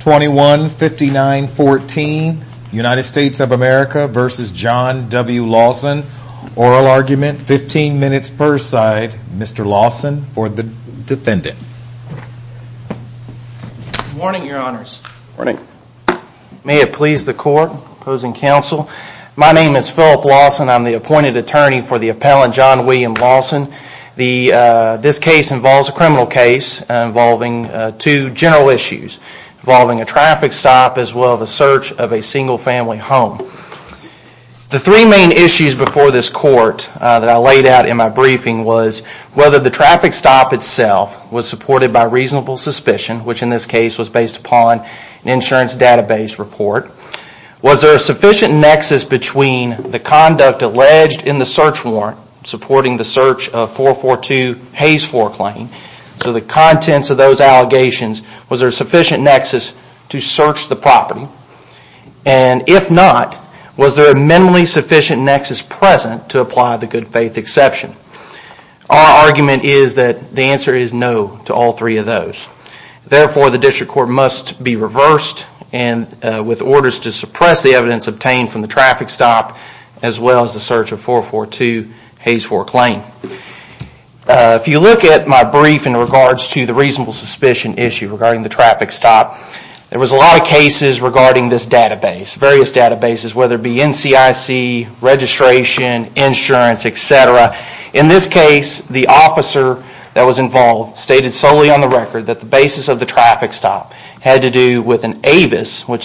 21-59-14 United States of America v. John W. Lawson. Oral argument, 15 minutes per side. Mr. Lawson for the defendant. Good morning, your honors. May it please the court, opposing counsel. My name is Phillip Lawson. I'm the appointed attorney for the case involves a criminal case involving two general issues. Involving a traffic stop as well as a search of a single family home. The three main issues before this court that I laid out in my briefing was whether the traffic stop itself was supported by reasonable suspicion which in this case was based upon an insurance database report. Was there a sufficient nexus between the conduct alleged in the search warrant supporting the search of 442 Hayes 4 claim? So the contents of those allegations, was there a sufficient nexus to search the property? And if not, was there a minimally sufficient nexus present to apply the good faith exception? Our argument is that the answer is no to all three of those. Therefore the district court must be reversed and with orders to suppress the evidence obtained from the traffic stop as well as the search of 442 Hayes 4 claim. If you look at my brief in regards to the reasonable suspicion issue regarding the traffic stop, there was a lot of cases regarding this database. Various databases whether it be NCIC, registration, insurance, etc. In this case the officer that was involved stated solely on the record that the basis of the traffic stop had to do with an AVIS which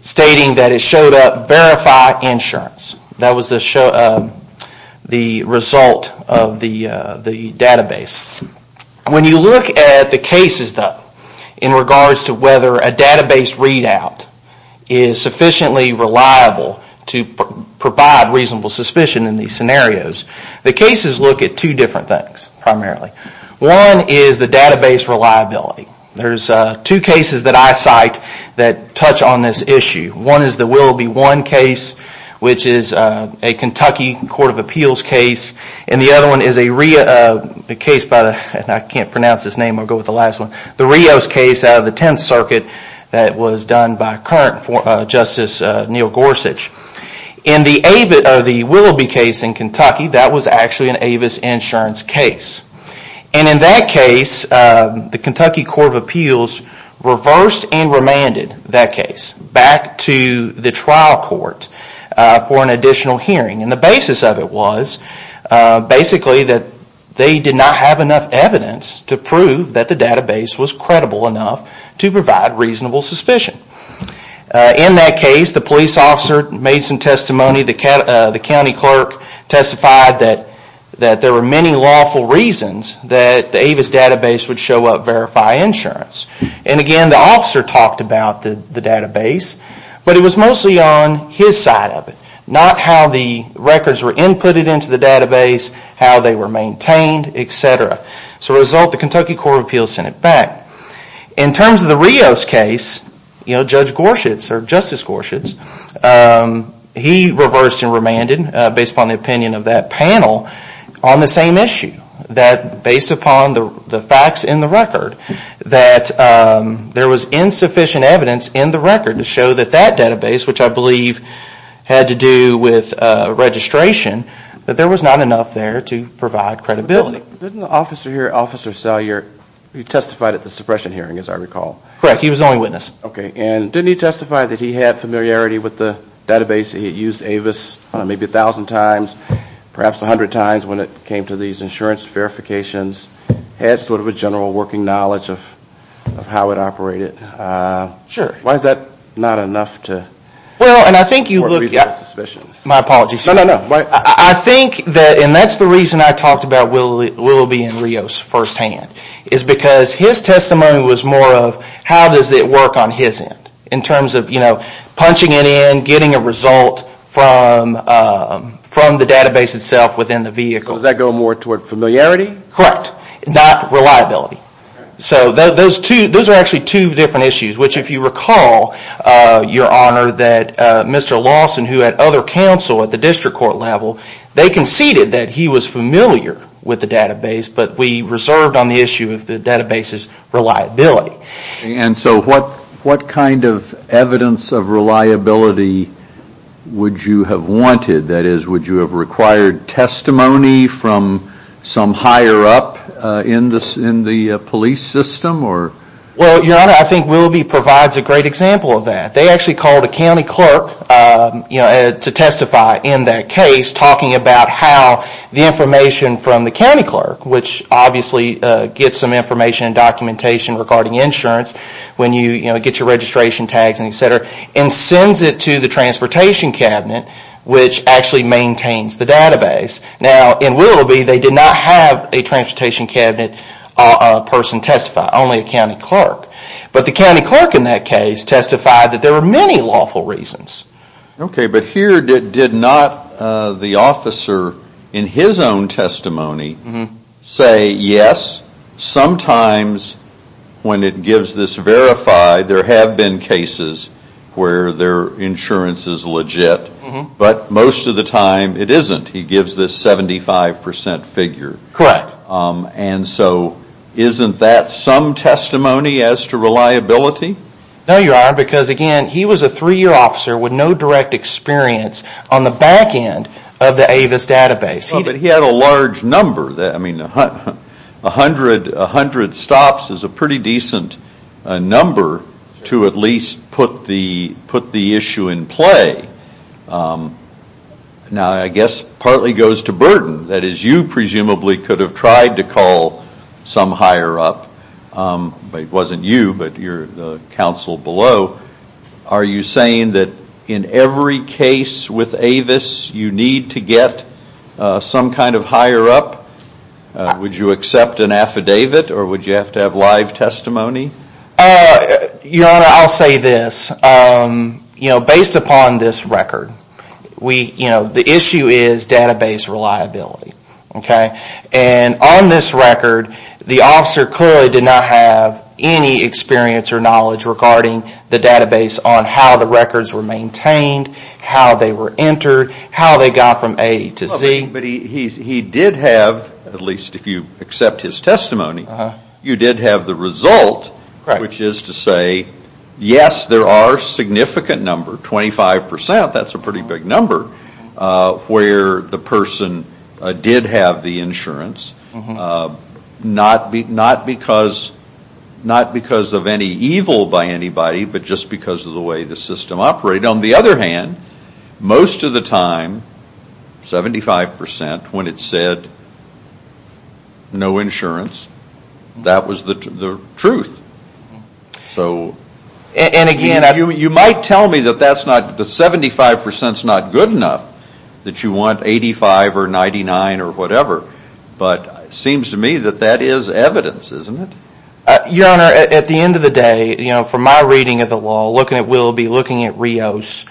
stated that it showed up verify insurance. That was the result of the database. When you look at the cases though in regards to whether a database readout is sufficiently reliable to provide reasonable suspicion in these scenarios, the cases look at two different things primarily. One is the database reliability. There are two cases that I cite that touch on this issue. One is the Willoughby 1 case which is a Kentucky Court of Appeals case and the other one is a Rios case out of the 10th Circuit that was done by current Justice Neil Gorsuch. In the Willoughby case in Kentucky that was actually an AVIS insurance case. In that case the Kentucky Court of Appeals reversed and remanded that case back to the trial court for an additional hearing. The basis of it was basically that they did not have enough evidence to prove that the database was credible enough to provide reasonable suspicion. In that case the police officer made some testimony. The county clerk testified that there were many lawful reasons that the AVIS database would show up verify insurance. And again the officer talked about the database but it was mostly on his side of it, not how the records were inputted into the database, how they were maintained, etc. As a result the Kentucky Court of Appeals sent it back. In terms of the Rios case, Justice Gorsuch issues, he reversed and remanded, based upon the opinion of that panel, on the same issue. That based upon the facts in the record, that there was insufficient evidence in the record to show that that database, which I believe had to do with registration, that there was not enough there to provide credibility. Didn't the officer here, Officer Salyer, he testified at the suppression hearing as I recall? Correct, he was the only witness. Didn't he testify that he had familiarity with the database, that he had used AVIS maybe a thousand times, perhaps a hundred times when it came to these insurance verifications, had sort of a general working knowledge of how it operated? Sure. Why is that not enough to provide reasonable suspicion? My apologies sir. I think that, and that's the reason I talked about Willoughby and Rios first hand, is because his testimony was more of how does it work on his end, in terms of punching it in, getting a result from the database itself within the vehicle. So does that go more toward familiarity? Correct, not reliability. So those are actually two different issues, which if you recall Your Honor, that Mr. Lawson, who had other counsel at the district court level, they conceded that he was familiar with the database, but we reserved on the issue of the database his reliability. And so what kind of evidence of reliability would you have wanted? That is, would you have required testimony from some higher up in the police system? Well, Your Honor, I think Willoughby provides a great example of that. They actually called a county clerk to testify in that case, talking about how the information from the county clerk, the documentation regarding insurance, when you get your registration tags and etc., and sends it to the transportation cabinet, which actually maintains the database. Now in Willoughby, they did not have a transportation cabinet person testify, only a county clerk. But the county clerk in that case testified that there were many lawful reasons. Okay, but here did not the officer in his own testimony say, yes, sometimes when it gives this verified, there have been cases where their insurance is legit, but most of the time it isn't. He gives this 75% figure. Correct. And so isn't that some testimony as to reliability? No, Your Honor, because again, he was a three-year officer with no direct experience on the back end of the AVIS database. But he had a large number. A hundred stops is a pretty decent number to at least put the issue in play. Now I guess it partly goes to Burton. That is, you presumably could have tried to call some higher up. It wasn't you, but your counsel below. Are you saying that in every case with AVIS, you need to get some kind of higher up? Would you accept an affidavit or would you have to have live testimony? Your Honor, I'll say this. Based upon this record, the issue is database reliability. And on this record, the officer clearly did not have any experience or knowledge regarding the database on how the records were maintained, how they were entered, how they got from A to Z. But he did have, at least if you accept his testimony, you did have the result, which is to say, yes, there are significant numbers, 25%, that's a pretty big number, where the person did have the insurance. Not because of any evil by anybody, but just because of the way the system operated. On the other hand, most of the time, 75%, when it said no insurance, that was the truth. So you might tell me that 75% is not good enough, that you want 85% or 99% or whatever, but it seems to me that that is evidence, isn't it? Your Honor, at the end of the day, from my reading of the law, looking at Willoughby, looking at Rios,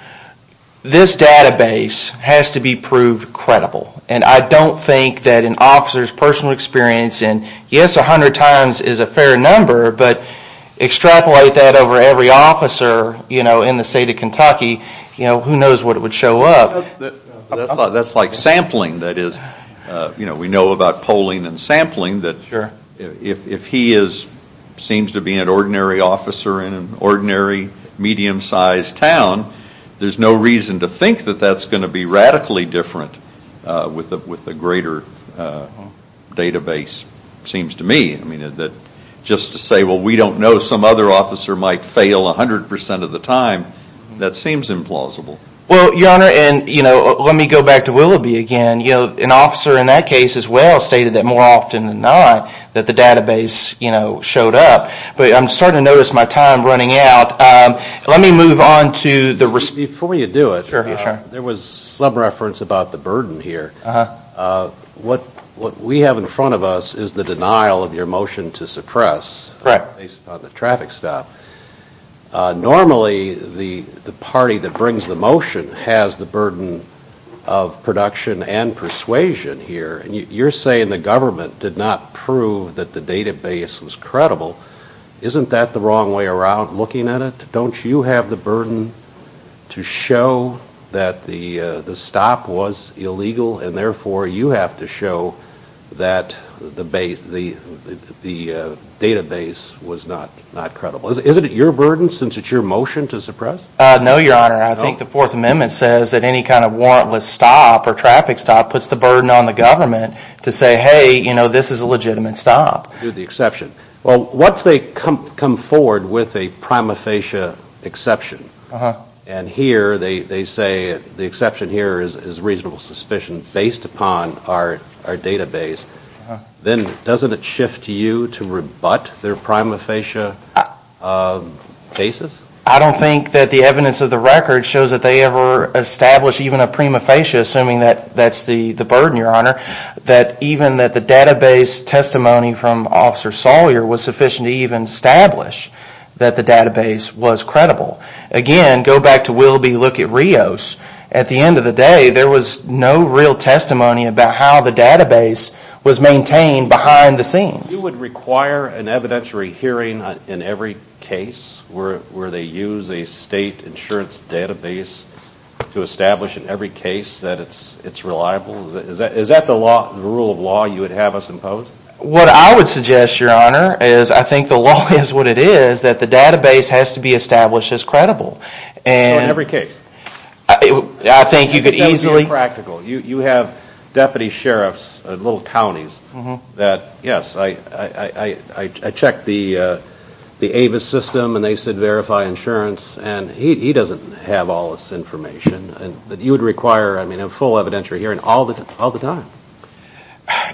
this database has to be proved credible. And I don't think that an officer's personal experience in, yes, 100 times is a fair number, but extrapolate that over every officer in the state of Kentucky, who knows what would show up. That's like sampling. We know about polling and sampling, that if he seems to be an ordinary officer in an ordinary, medium-sized town, there's no reason to think that that's going to be radically different with a greater database, it seems to me. Just to say, we don't know, some other officer might fail 100% of the time, that seems implausible. Well, Your Honor, let me go back to Willoughby again. An officer in that case as well stated that more often than not, that the database showed up, but I'm starting to notice my time running out. Let me move on to the... Before you do it, there was some reference about the burden here. What we have in front of us is the denial of your motion to suppress, based on the traffic stop. Normally, the party that brings the motion has the burden of production and persuasion here, and you're saying the government did not prove that the database was credible. Isn't that the wrong way around, looking at it? Don't you have the burden to show that the stop was illegal, and therefore you have to show that the database was not credible? Is it your burden, since it's your motion to suppress? No, Your Honor. I think the Fourth Amendment says that any kind of warrantless stop or traffic stop puts the burden on the government to say, hey, this is a legitimate stop. Well, once they come forward with a prima facie exception, and here they say the exception here is reasonable suspicion based upon our database, then doesn't it shift you to rebut their prima facie basis? I don't think that the evidence of the record shows that they ever established even a prima facie, assuming that that's the burden, Your Honor. That even the database testimony from Officer Sawyer was sufficient to even establish that the database was credible. Again, go back to Willoughby, look at Rios. At the end of the day, there was no real testimony about how the database was maintained behind the scenes. You would require an evidentiary hearing in every case where they use a state insurance database to establish in every case that it's reliable? Is that the rule of law you would have us impose? What I would suggest, Your Honor, is I think the law is what it is, that the database has to be established as credible. So in every case? I think you could easily... That would be impractical. You have deputy sheriffs in little counties that, yes, I checked the Avis system and they said verify insurance, and he doesn't have all this information. You would require a full evidentiary hearing all the time.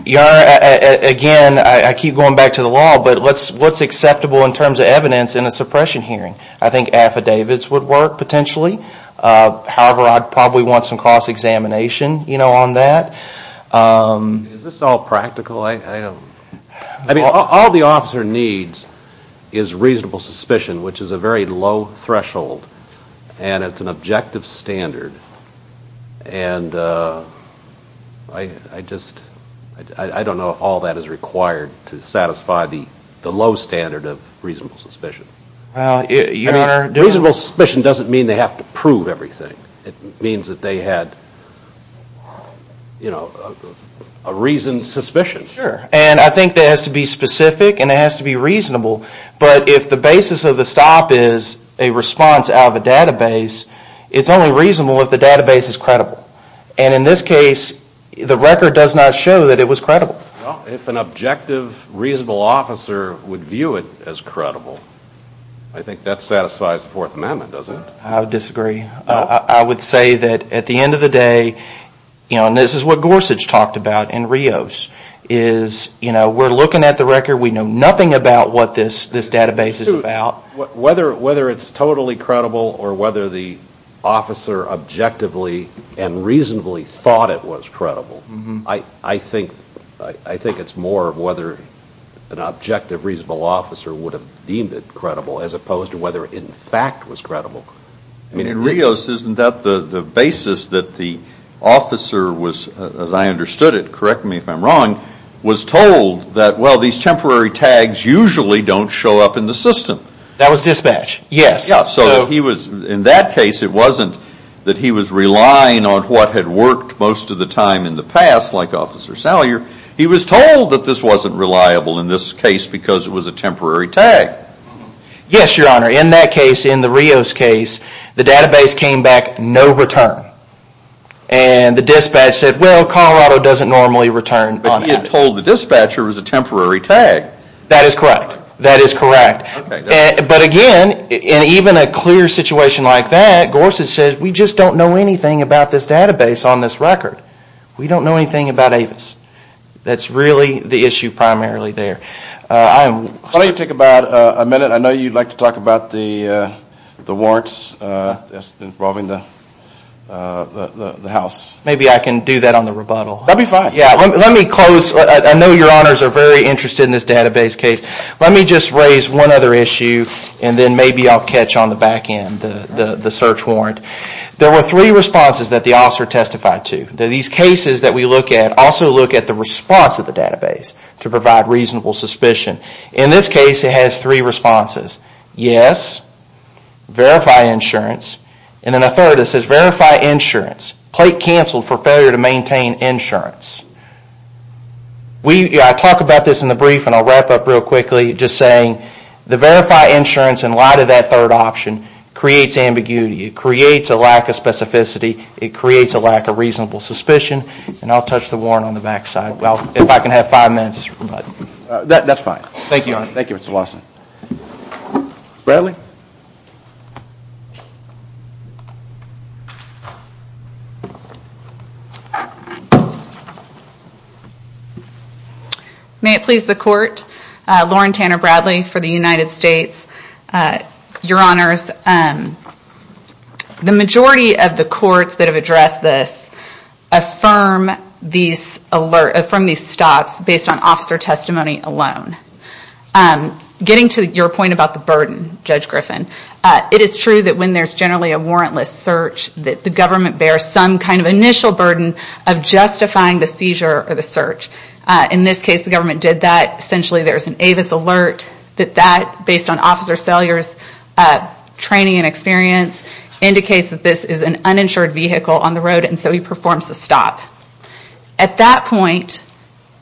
Your Honor, again, I keep going back to the law, but what's acceptable in terms of evidence in a suppression hearing? I think affidavits would work, potentially. However, I'd probably want some cross-examination on that. Is this all practical? I mean, all the officer needs is reasonable suspicion, which is a very low threshold, and it's an objective standard. And I just... I don't know if all that is required to satisfy the low standard of reasonable suspicion. Reasonable suspicion doesn't mean they have to prove everything. It means that they had a reasoned suspicion. Sure. And I think that has to be specific and it has to be reasonable. But if the basis of the stop is a response out of a database, it's only reasonable if the database is credible. And in this case, the record does not show that it was credible. Well, if an objective, reasonable officer would view it as credible, I think that satisfies the Fourth Amendment, doesn't it? I disagree. I would say that at the end of the day, and this is what Gorsuch talked about in Rios, is we're looking at the record. We know nothing about what this database is about. Whether it's totally credible or whether the officer objectively and reasonably thought it was credible, I think it's more of whether an objective, reasonable officer would have deemed it credible as opposed to whether it, in fact, was credible. I mean, in Rios, isn't that the basis that the officer was, as I understood it, correct me if I'm wrong, was told that, well, these temporary tags usually don't show up in the system. That was dispatch, yes. Yeah, so he was, in that case, it wasn't that he was relying on what had worked most of the time in the past, like Officer Salyer. He was told that this wasn't reliable in this case because it was a temporary tag. Yes, Your Honor. In that case, in the Rios case, the database came back no return. And the dispatch said, well, Colorado doesn't normally return on it. But he had told the dispatcher it was a temporary tag. That is correct. That is correct. But again, in even a clear situation like that, Gorsuch said, we just don't know anything about this database on this record. We don't know anything about Avis. That's really the issue primarily there. Why don't you take about a minute? I know you'd like to talk about the warrants involving the house. Maybe I can do that on the rebuttal. That'd be fine. Let me close. I know Your Honors are very interested in this database case. Let me just raise one other issue and then maybe I'll catch on the back end the search warrant. There were three responses that the officer testified to. These cases that we look at also look at the response of the database to provide reasonable suspicion. In this case, it has three responses. Yes, verify insurance. And then a third, it says verify insurance. Plate canceled for failure to maintain insurance. I talk about this in the brief and I'll wrap up real quickly just saying the verify insurance in light of that third option creates ambiguity. It creates a lack of specificity. It creates a lack of reasonable suspicion. And I'll touch the warrant on the back side. Well, if I can have five minutes. That's fine. Thank you, Your Honor. Thank you, Mr. Lawson. Bradley? May it please the Court. Lauren Tanner Bradley for the United States. Your Honors, the majority of the courts that have addressed this affirm these stops based on officer testimony alone. Getting to your point about the burden, Judge Griffin, it is true that when there's generally a warrantless search that the government bears some kind of initial burden of justifying the seizure or the search. In this case, the government did that. Essentially, there's an Avis alert that that, based on Officer Salyer's training and experience, indicates that this is an uninsured vehicle on the road and so he performs the stop. At that point,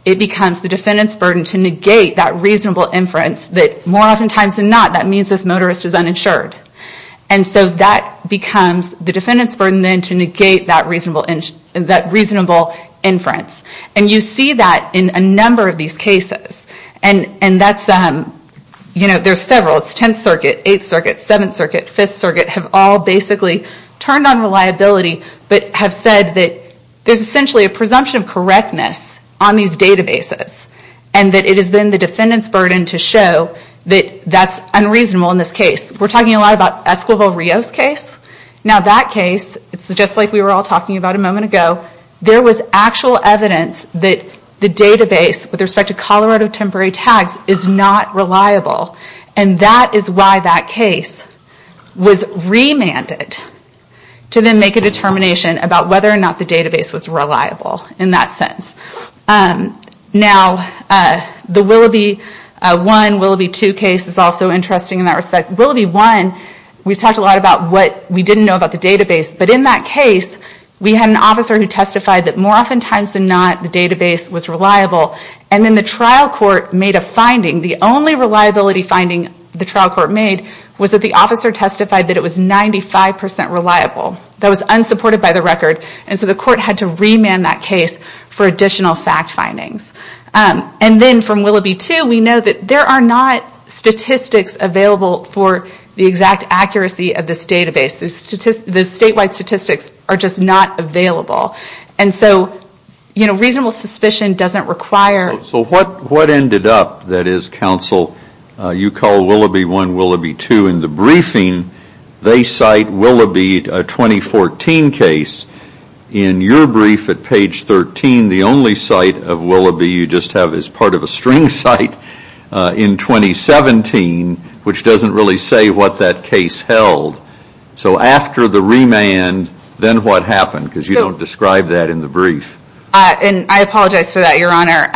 it becomes the defendant's burden to negate that reasonable inference that more often times than not, that means this motorist is uninsured. And so that becomes the defendant's burden then to negate that reasonable inference. And you see that in a number of these cases. And there's several. It's 10th Circuit, 8th Circuit, 7th Circuit, 5th Circuit have all basically turned on reliability but have said that there's essentially a presumption of correctness on these databases and that it has been the defendant's burden to show that that's unreasonable in this case. We're talking a lot about Escobar-Rios case. Now that case, it's just like we were all talking about a moment ago, there was actual evidence that the database with respect to Colorado Temporary Tags is not reliable. And that is why that case was remanded to then make a determination about whether or not the database was reliable in that sense. Now, the Willoughby 1, Willoughby 2 case is also interesting in that respect. Willoughby 1, we've talked a lot about what we didn't know about the database. But in that case, we had an officer who testified that more often times than not, the database was reliable. And then the trial court made a finding, the only reliability finding the trial court made was that the officer testified that it was 95% reliable. That was unsupported by the record. And so the court had to remand that case for additional fact findings. And then from Willoughby 2, we know that there are not statistics available for the exact accuracy of this database. The statewide statistics are just not available. And so, you know, reasonable suspicion doesn't require... So what ended up, that is counsel, you call Willoughby 1, Willoughby 2 in the briefing, they cite Willoughby 2014 case. In your brief at page 13, the only cite of Willoughby you just have is part of a string cite in 2017, which doesn't really say what that case held. So after the remand, then what happened? Because you don't describe that in the brief. And I apologize for that, Your Honor.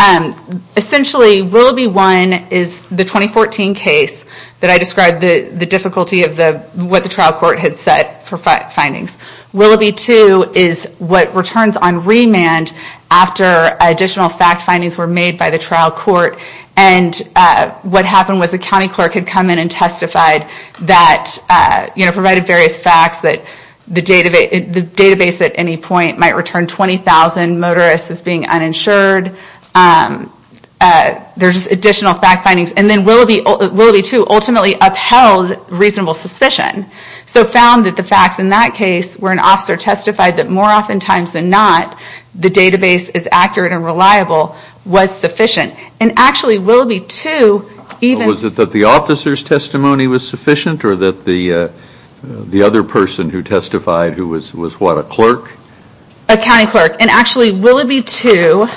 Essentially, Willoughby 1 is the 2014 case that I described the difficulty of what the trial court had said for findings. Willoughby 2 is what returns on remand after additional fact findings were made by the trial court. And what happened was the county clerk had come in and testified that, you know, provided various facts that the database at any point might return 20,000 motorists as being uninsured. There's additional fact findings. And then Willoughby 2 ultimately upheld reasonable suspicion. So found that the facts in that case where an officer testified that more often times than not, the database is accurate and reliable, was sufficient. And actually Willoughby 2 even... Was it that the officer's testimony was sufficient or that the other person who testified who was what, a clerk? A county clerk. And actually Willoughby 2,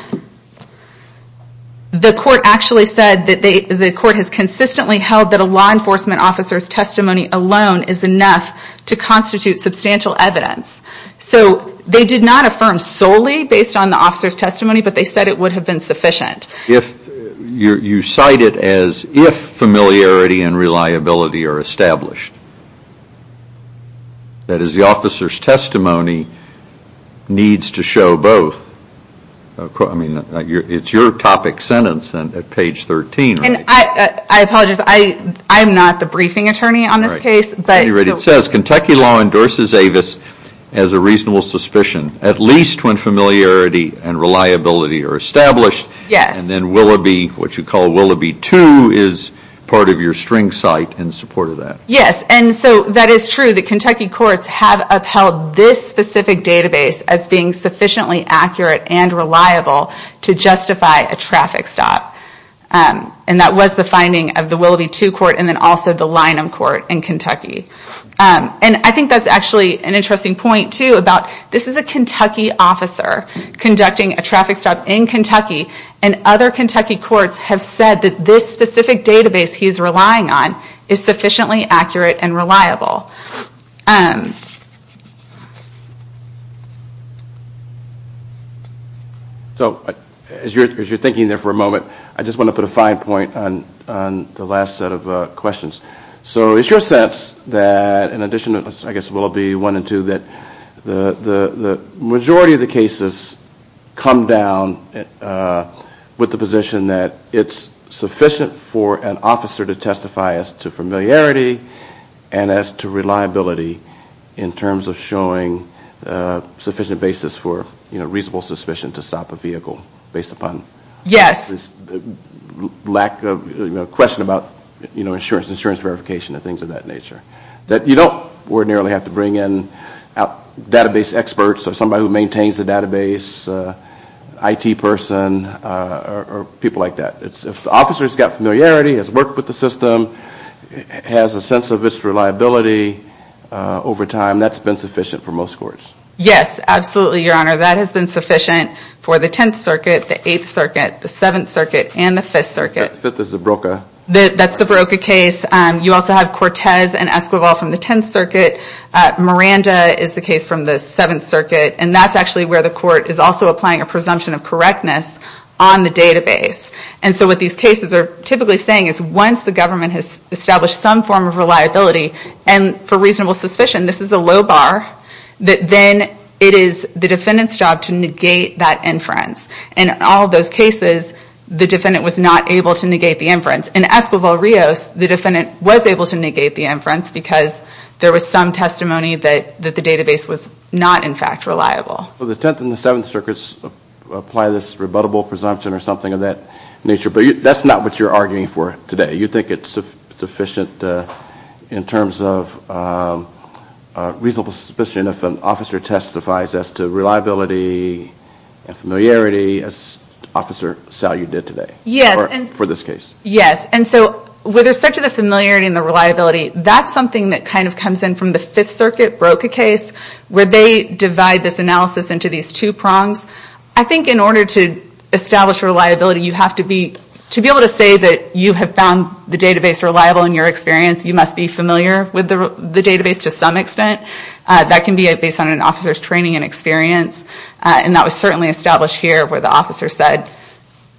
the court actually said that the court has consistently held that a law enforcement officer's testimony alone is enough to constitute substantial evidence. So they did not affirm solely based on the officer's testimony, but they said it would have been sufficient. You cite it as if familiarity and reliability are established. That is the officer's testimony needs to show both. I mean, it's your topic sentence at page 13, right? I apologize. I'm not the briefing attorney on this case. Anyway, it says Kentucky law endorses Avis as a reasonable suspicion, at least when familiarity and reliability are established. And then Willoughby, what you call Willoughby 2, is part of your string site in support of that. Yes, and so that is true that Kentucky courts have upheld this specific database as being sufficiently accurate and reliable to justify a traffic stop. And that was the finding of the Willoughby 2 court and then also the Lynham court in Kentucky. And I think that's actually an interesting point too, about this is a Kentucky officer conducting a traffic stop in Kentucky, and other Kentucky courts have said that this specific database he's relying on is sufficiently accurate and reliable. So as you're thinking there for a moment, I just want to put a fine point on the last set of questions. So it's your sense that in addition to, I guess Willoughby 1 and 2, that the majority of the cases come down with the position that it's sufficient for the officer to testify as to familiarity and as to reliability in terms of showing sufficient basis for reasonable suspicion to stop a vehicle based upon lack of, a question about insurance verification and things of that nature. That you don't ordinarily have to bring in database experts or somebody who maintains a database, IT person, or people like that. If the officer's got familiarity, has worked with the system, has a sense of its reliability over time, that's been sufficient for most courts. Yes, absolutely your honor. That has been sufficient for the 10th circuit, the 8th circuit, the 7th circuit, and the 5th circuit. The 5th is the Broca. That's the Broca case. You also have Cortez and Esquivel from the 10th circuit. Miranda is the case from the 7th circuit. And that's actually where the court is also applying a presumption of correctness on the database. And so what these cases are typically saying is once the government has established some form of reliability and for reasonable suspicion, this is a low bar, that then it is the defendant's job to negate that inference. In all those cases, the defendant was not able to negate the inference. In Esquivel-Rios, the defendant was able to negate the inference because there was some testimony that the database was not in fact reliable. So the 10th and the 7th circuits apply this rebuttable presumption or something of that nature, but that's not what you're arguing for today. You think it's sufficient in terms of reasonable suspicion if an officer testifies as to reliability and familiarity as Officer Salyuk did today for this case. Yes. And so with respect to the familiarity and the reliability, that's something that kind of comes in from the 5th circuit Broca case where they divide this analysis into these two prongs. I think in order to establish reliability, you have to be able to say that you have found the database reliable in your experience. You must be familiar with the database to some extent. That can be based on an officer's training and experience. And that was certainly established here where the officer said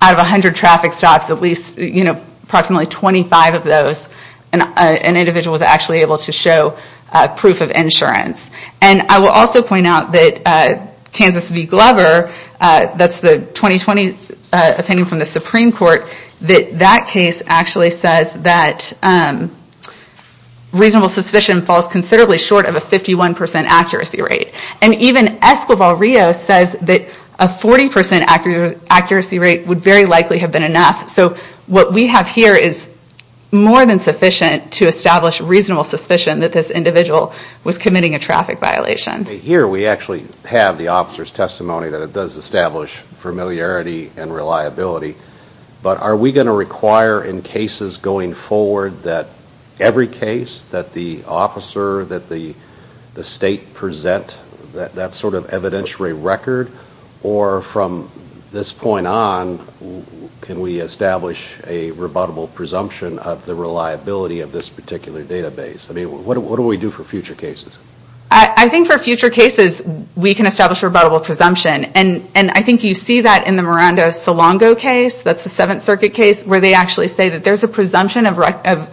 out of 100 traffic stops, approximately 25 of those, an individual was actually able to show proof of insurance. And I will also point out that Kansas v. Glover, that's the 2020 opinion from the Supreme Court, that that case actually says that reasonable suspicion falls considerably short of a 51% accuracy rate. And even Escobar-Rios says that a 40% accuracy rate would very likely have been enough. So what we have here is more than sufficient to establish reasonable suspicion that this individual was committing a traffic violation. Here we actually have the officer's testimony that it does establish familiarity and reliability. But are we going to require in cases going forward that every case that the officer, that the state present that sort of evidentiary record? Or from this point on, can we establish a rebuttable presumption of the reliability of this particular database? What do we do for future cases? I think for future cases, we can establish rebuttable presumption. And I think you see that in the Miranda-Solongo case, that's the Seventh Circuit case, where they actually say that there's a presumption of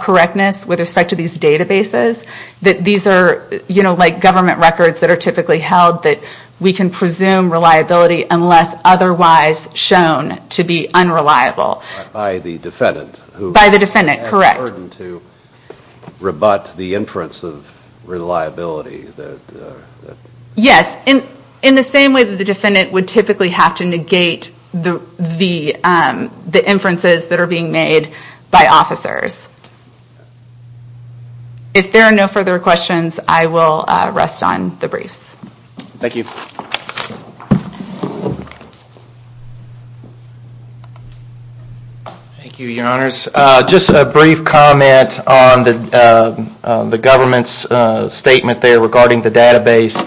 correctness with respect to these databases, that these are like government records that are typically held, that we can presume reliability unless otherwise shown to be unreliable. By the defendant, who has the burden to rebut the inference of reliability. Yes. In the same way that the defendant would typically have to negate the inferences that are being made by officers. If there are no further questions, I will rest on the briefs. Thank you, your honors. Just a brief comment on the government's statement there regarding the database.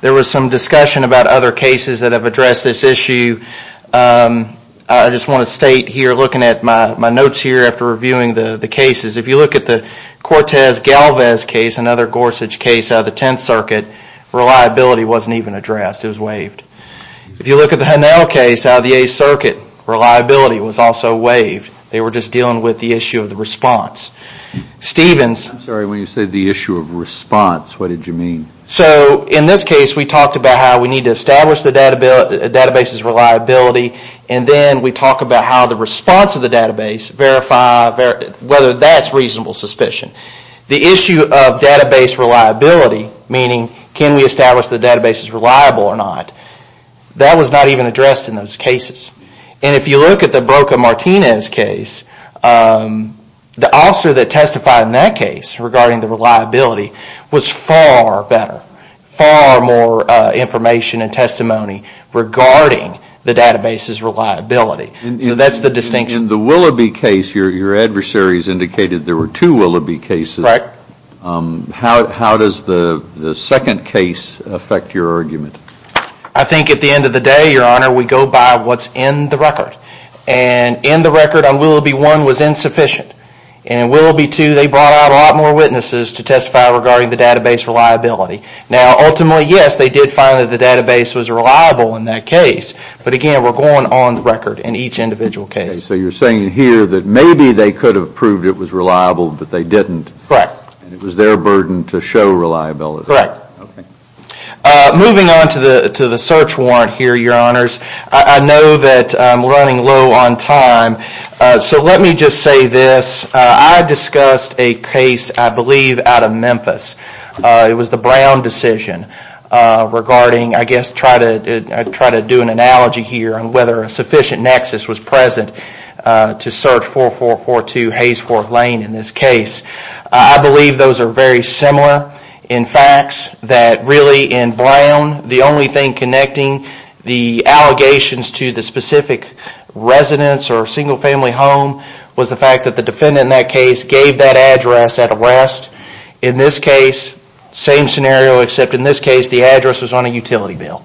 There was some discussion about other cases that have addressed this issue. I just want to state here, looking at my notes here after reviewing the cases, if you look at the Cortez-Galvez case, another Gorsuch case out of the Tenth Circuit, reliability wasn't even addressed. It was waived. If you look at the Hannel case out of the Eighth Circuit, reliability was also waived. They were just dealing with the issue of the response. I'm sorry, when you say the issue of response, what did you mean? So in this case, we talked about how we need to establish the database's reliability, and then we talked about how the response of the database, whether that's reasonable suspicion. The issue of database reliability, meaning can we establish the database's reliability or not, that was not even addressed in those cases. If you look at the Broca-Martinez case, the officer that testified in that case regarding the reliability was far better, far more information and testimony regarding the database's reliability. So that's the distinction. In the Willoughby case, your adversaries indicated there were two Willoughby cases. Correct. How does the second case affect your argument? I think at the end of the day, Your Honor, we go by what's in the record. And in the record on Willoughby 1 was insufficient. And Willoughby 2, they brought out a lot more witnesses to testify regarding the database reliability. Now ultimately, yes, they did find that the database was reliable in that case. But again, they were going on the record in each individual case. So you're saying here that maybe they could have proved it was reliable, but they didn't. Correct. And it was their burden to show reliability. Correct. Moving on to the search warrant here, Your Honors, I know that I'm running low on time. So let me just say this. I discussed a case, I believe, out of Memphis. It was the Brown decision regarding, I guess, I'll try to do an analogy here on whether a sufficient nexus was present to search 4442 Hayes Ft. Lane in this case. I believe those are very similar in facts that really in Brown, the only thing connecting the allegations to the specific residence or single family home was the fact that the defendant in that case gave that address at arrest. In this case, same scenario, except in this case the address was on a utility bill.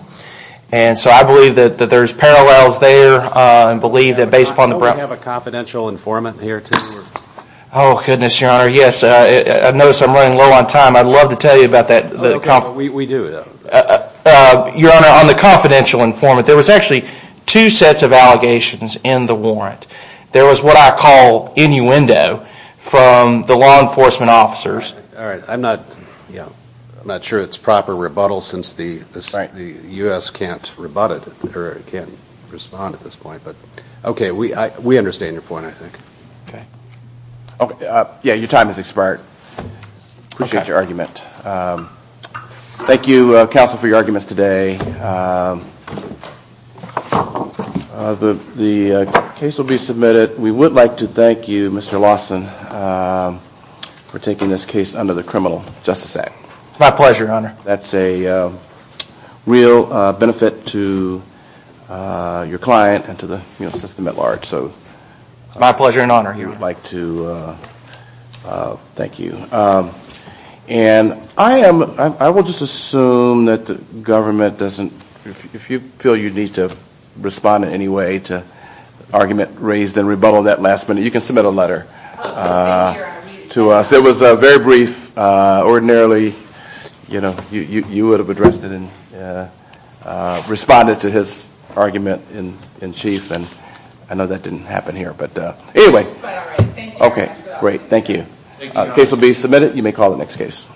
And so I believe that there's parallels there and believe that based upon the Brown... Don't we have a confidential informant here too? Oh goodness, Your Honor. Yes, I notice I'm running low on time. I'd love to tell you about that. We do. Your Honor, on the confidential informant, there was actually two sets of allegations in the warrant. There was what I call innuendo from the law enforcement officers... All right, I'm not sure it's proper rebuttal since the U.S. can't rebut it or can't respond at this point. But okay, we understand your point, I think. Okay. Yeah, your time has expired. Appreciate your argument. Thank you, counsel, for your time. The case will be submitted. We would like to thank you, Mr. Lawson, for taking this case under the criminal justice act. It's my pleasure, Your Honor. That's a real benefit to your client and to the system at large. It's my pleasure and honor. You would like to... Thank you. And I will just assume that the government doesn't... Argument raised and rebuttal of that last minute. You can submit a letter to us. It was very brief. Ordinarily, you would have addressed it and responded to his argument in chief and I know that didn't happen here. But anyway... But all right. Thank you, Your Honor. Okay, great. Thank you. Case will be submitted. You may call the next case.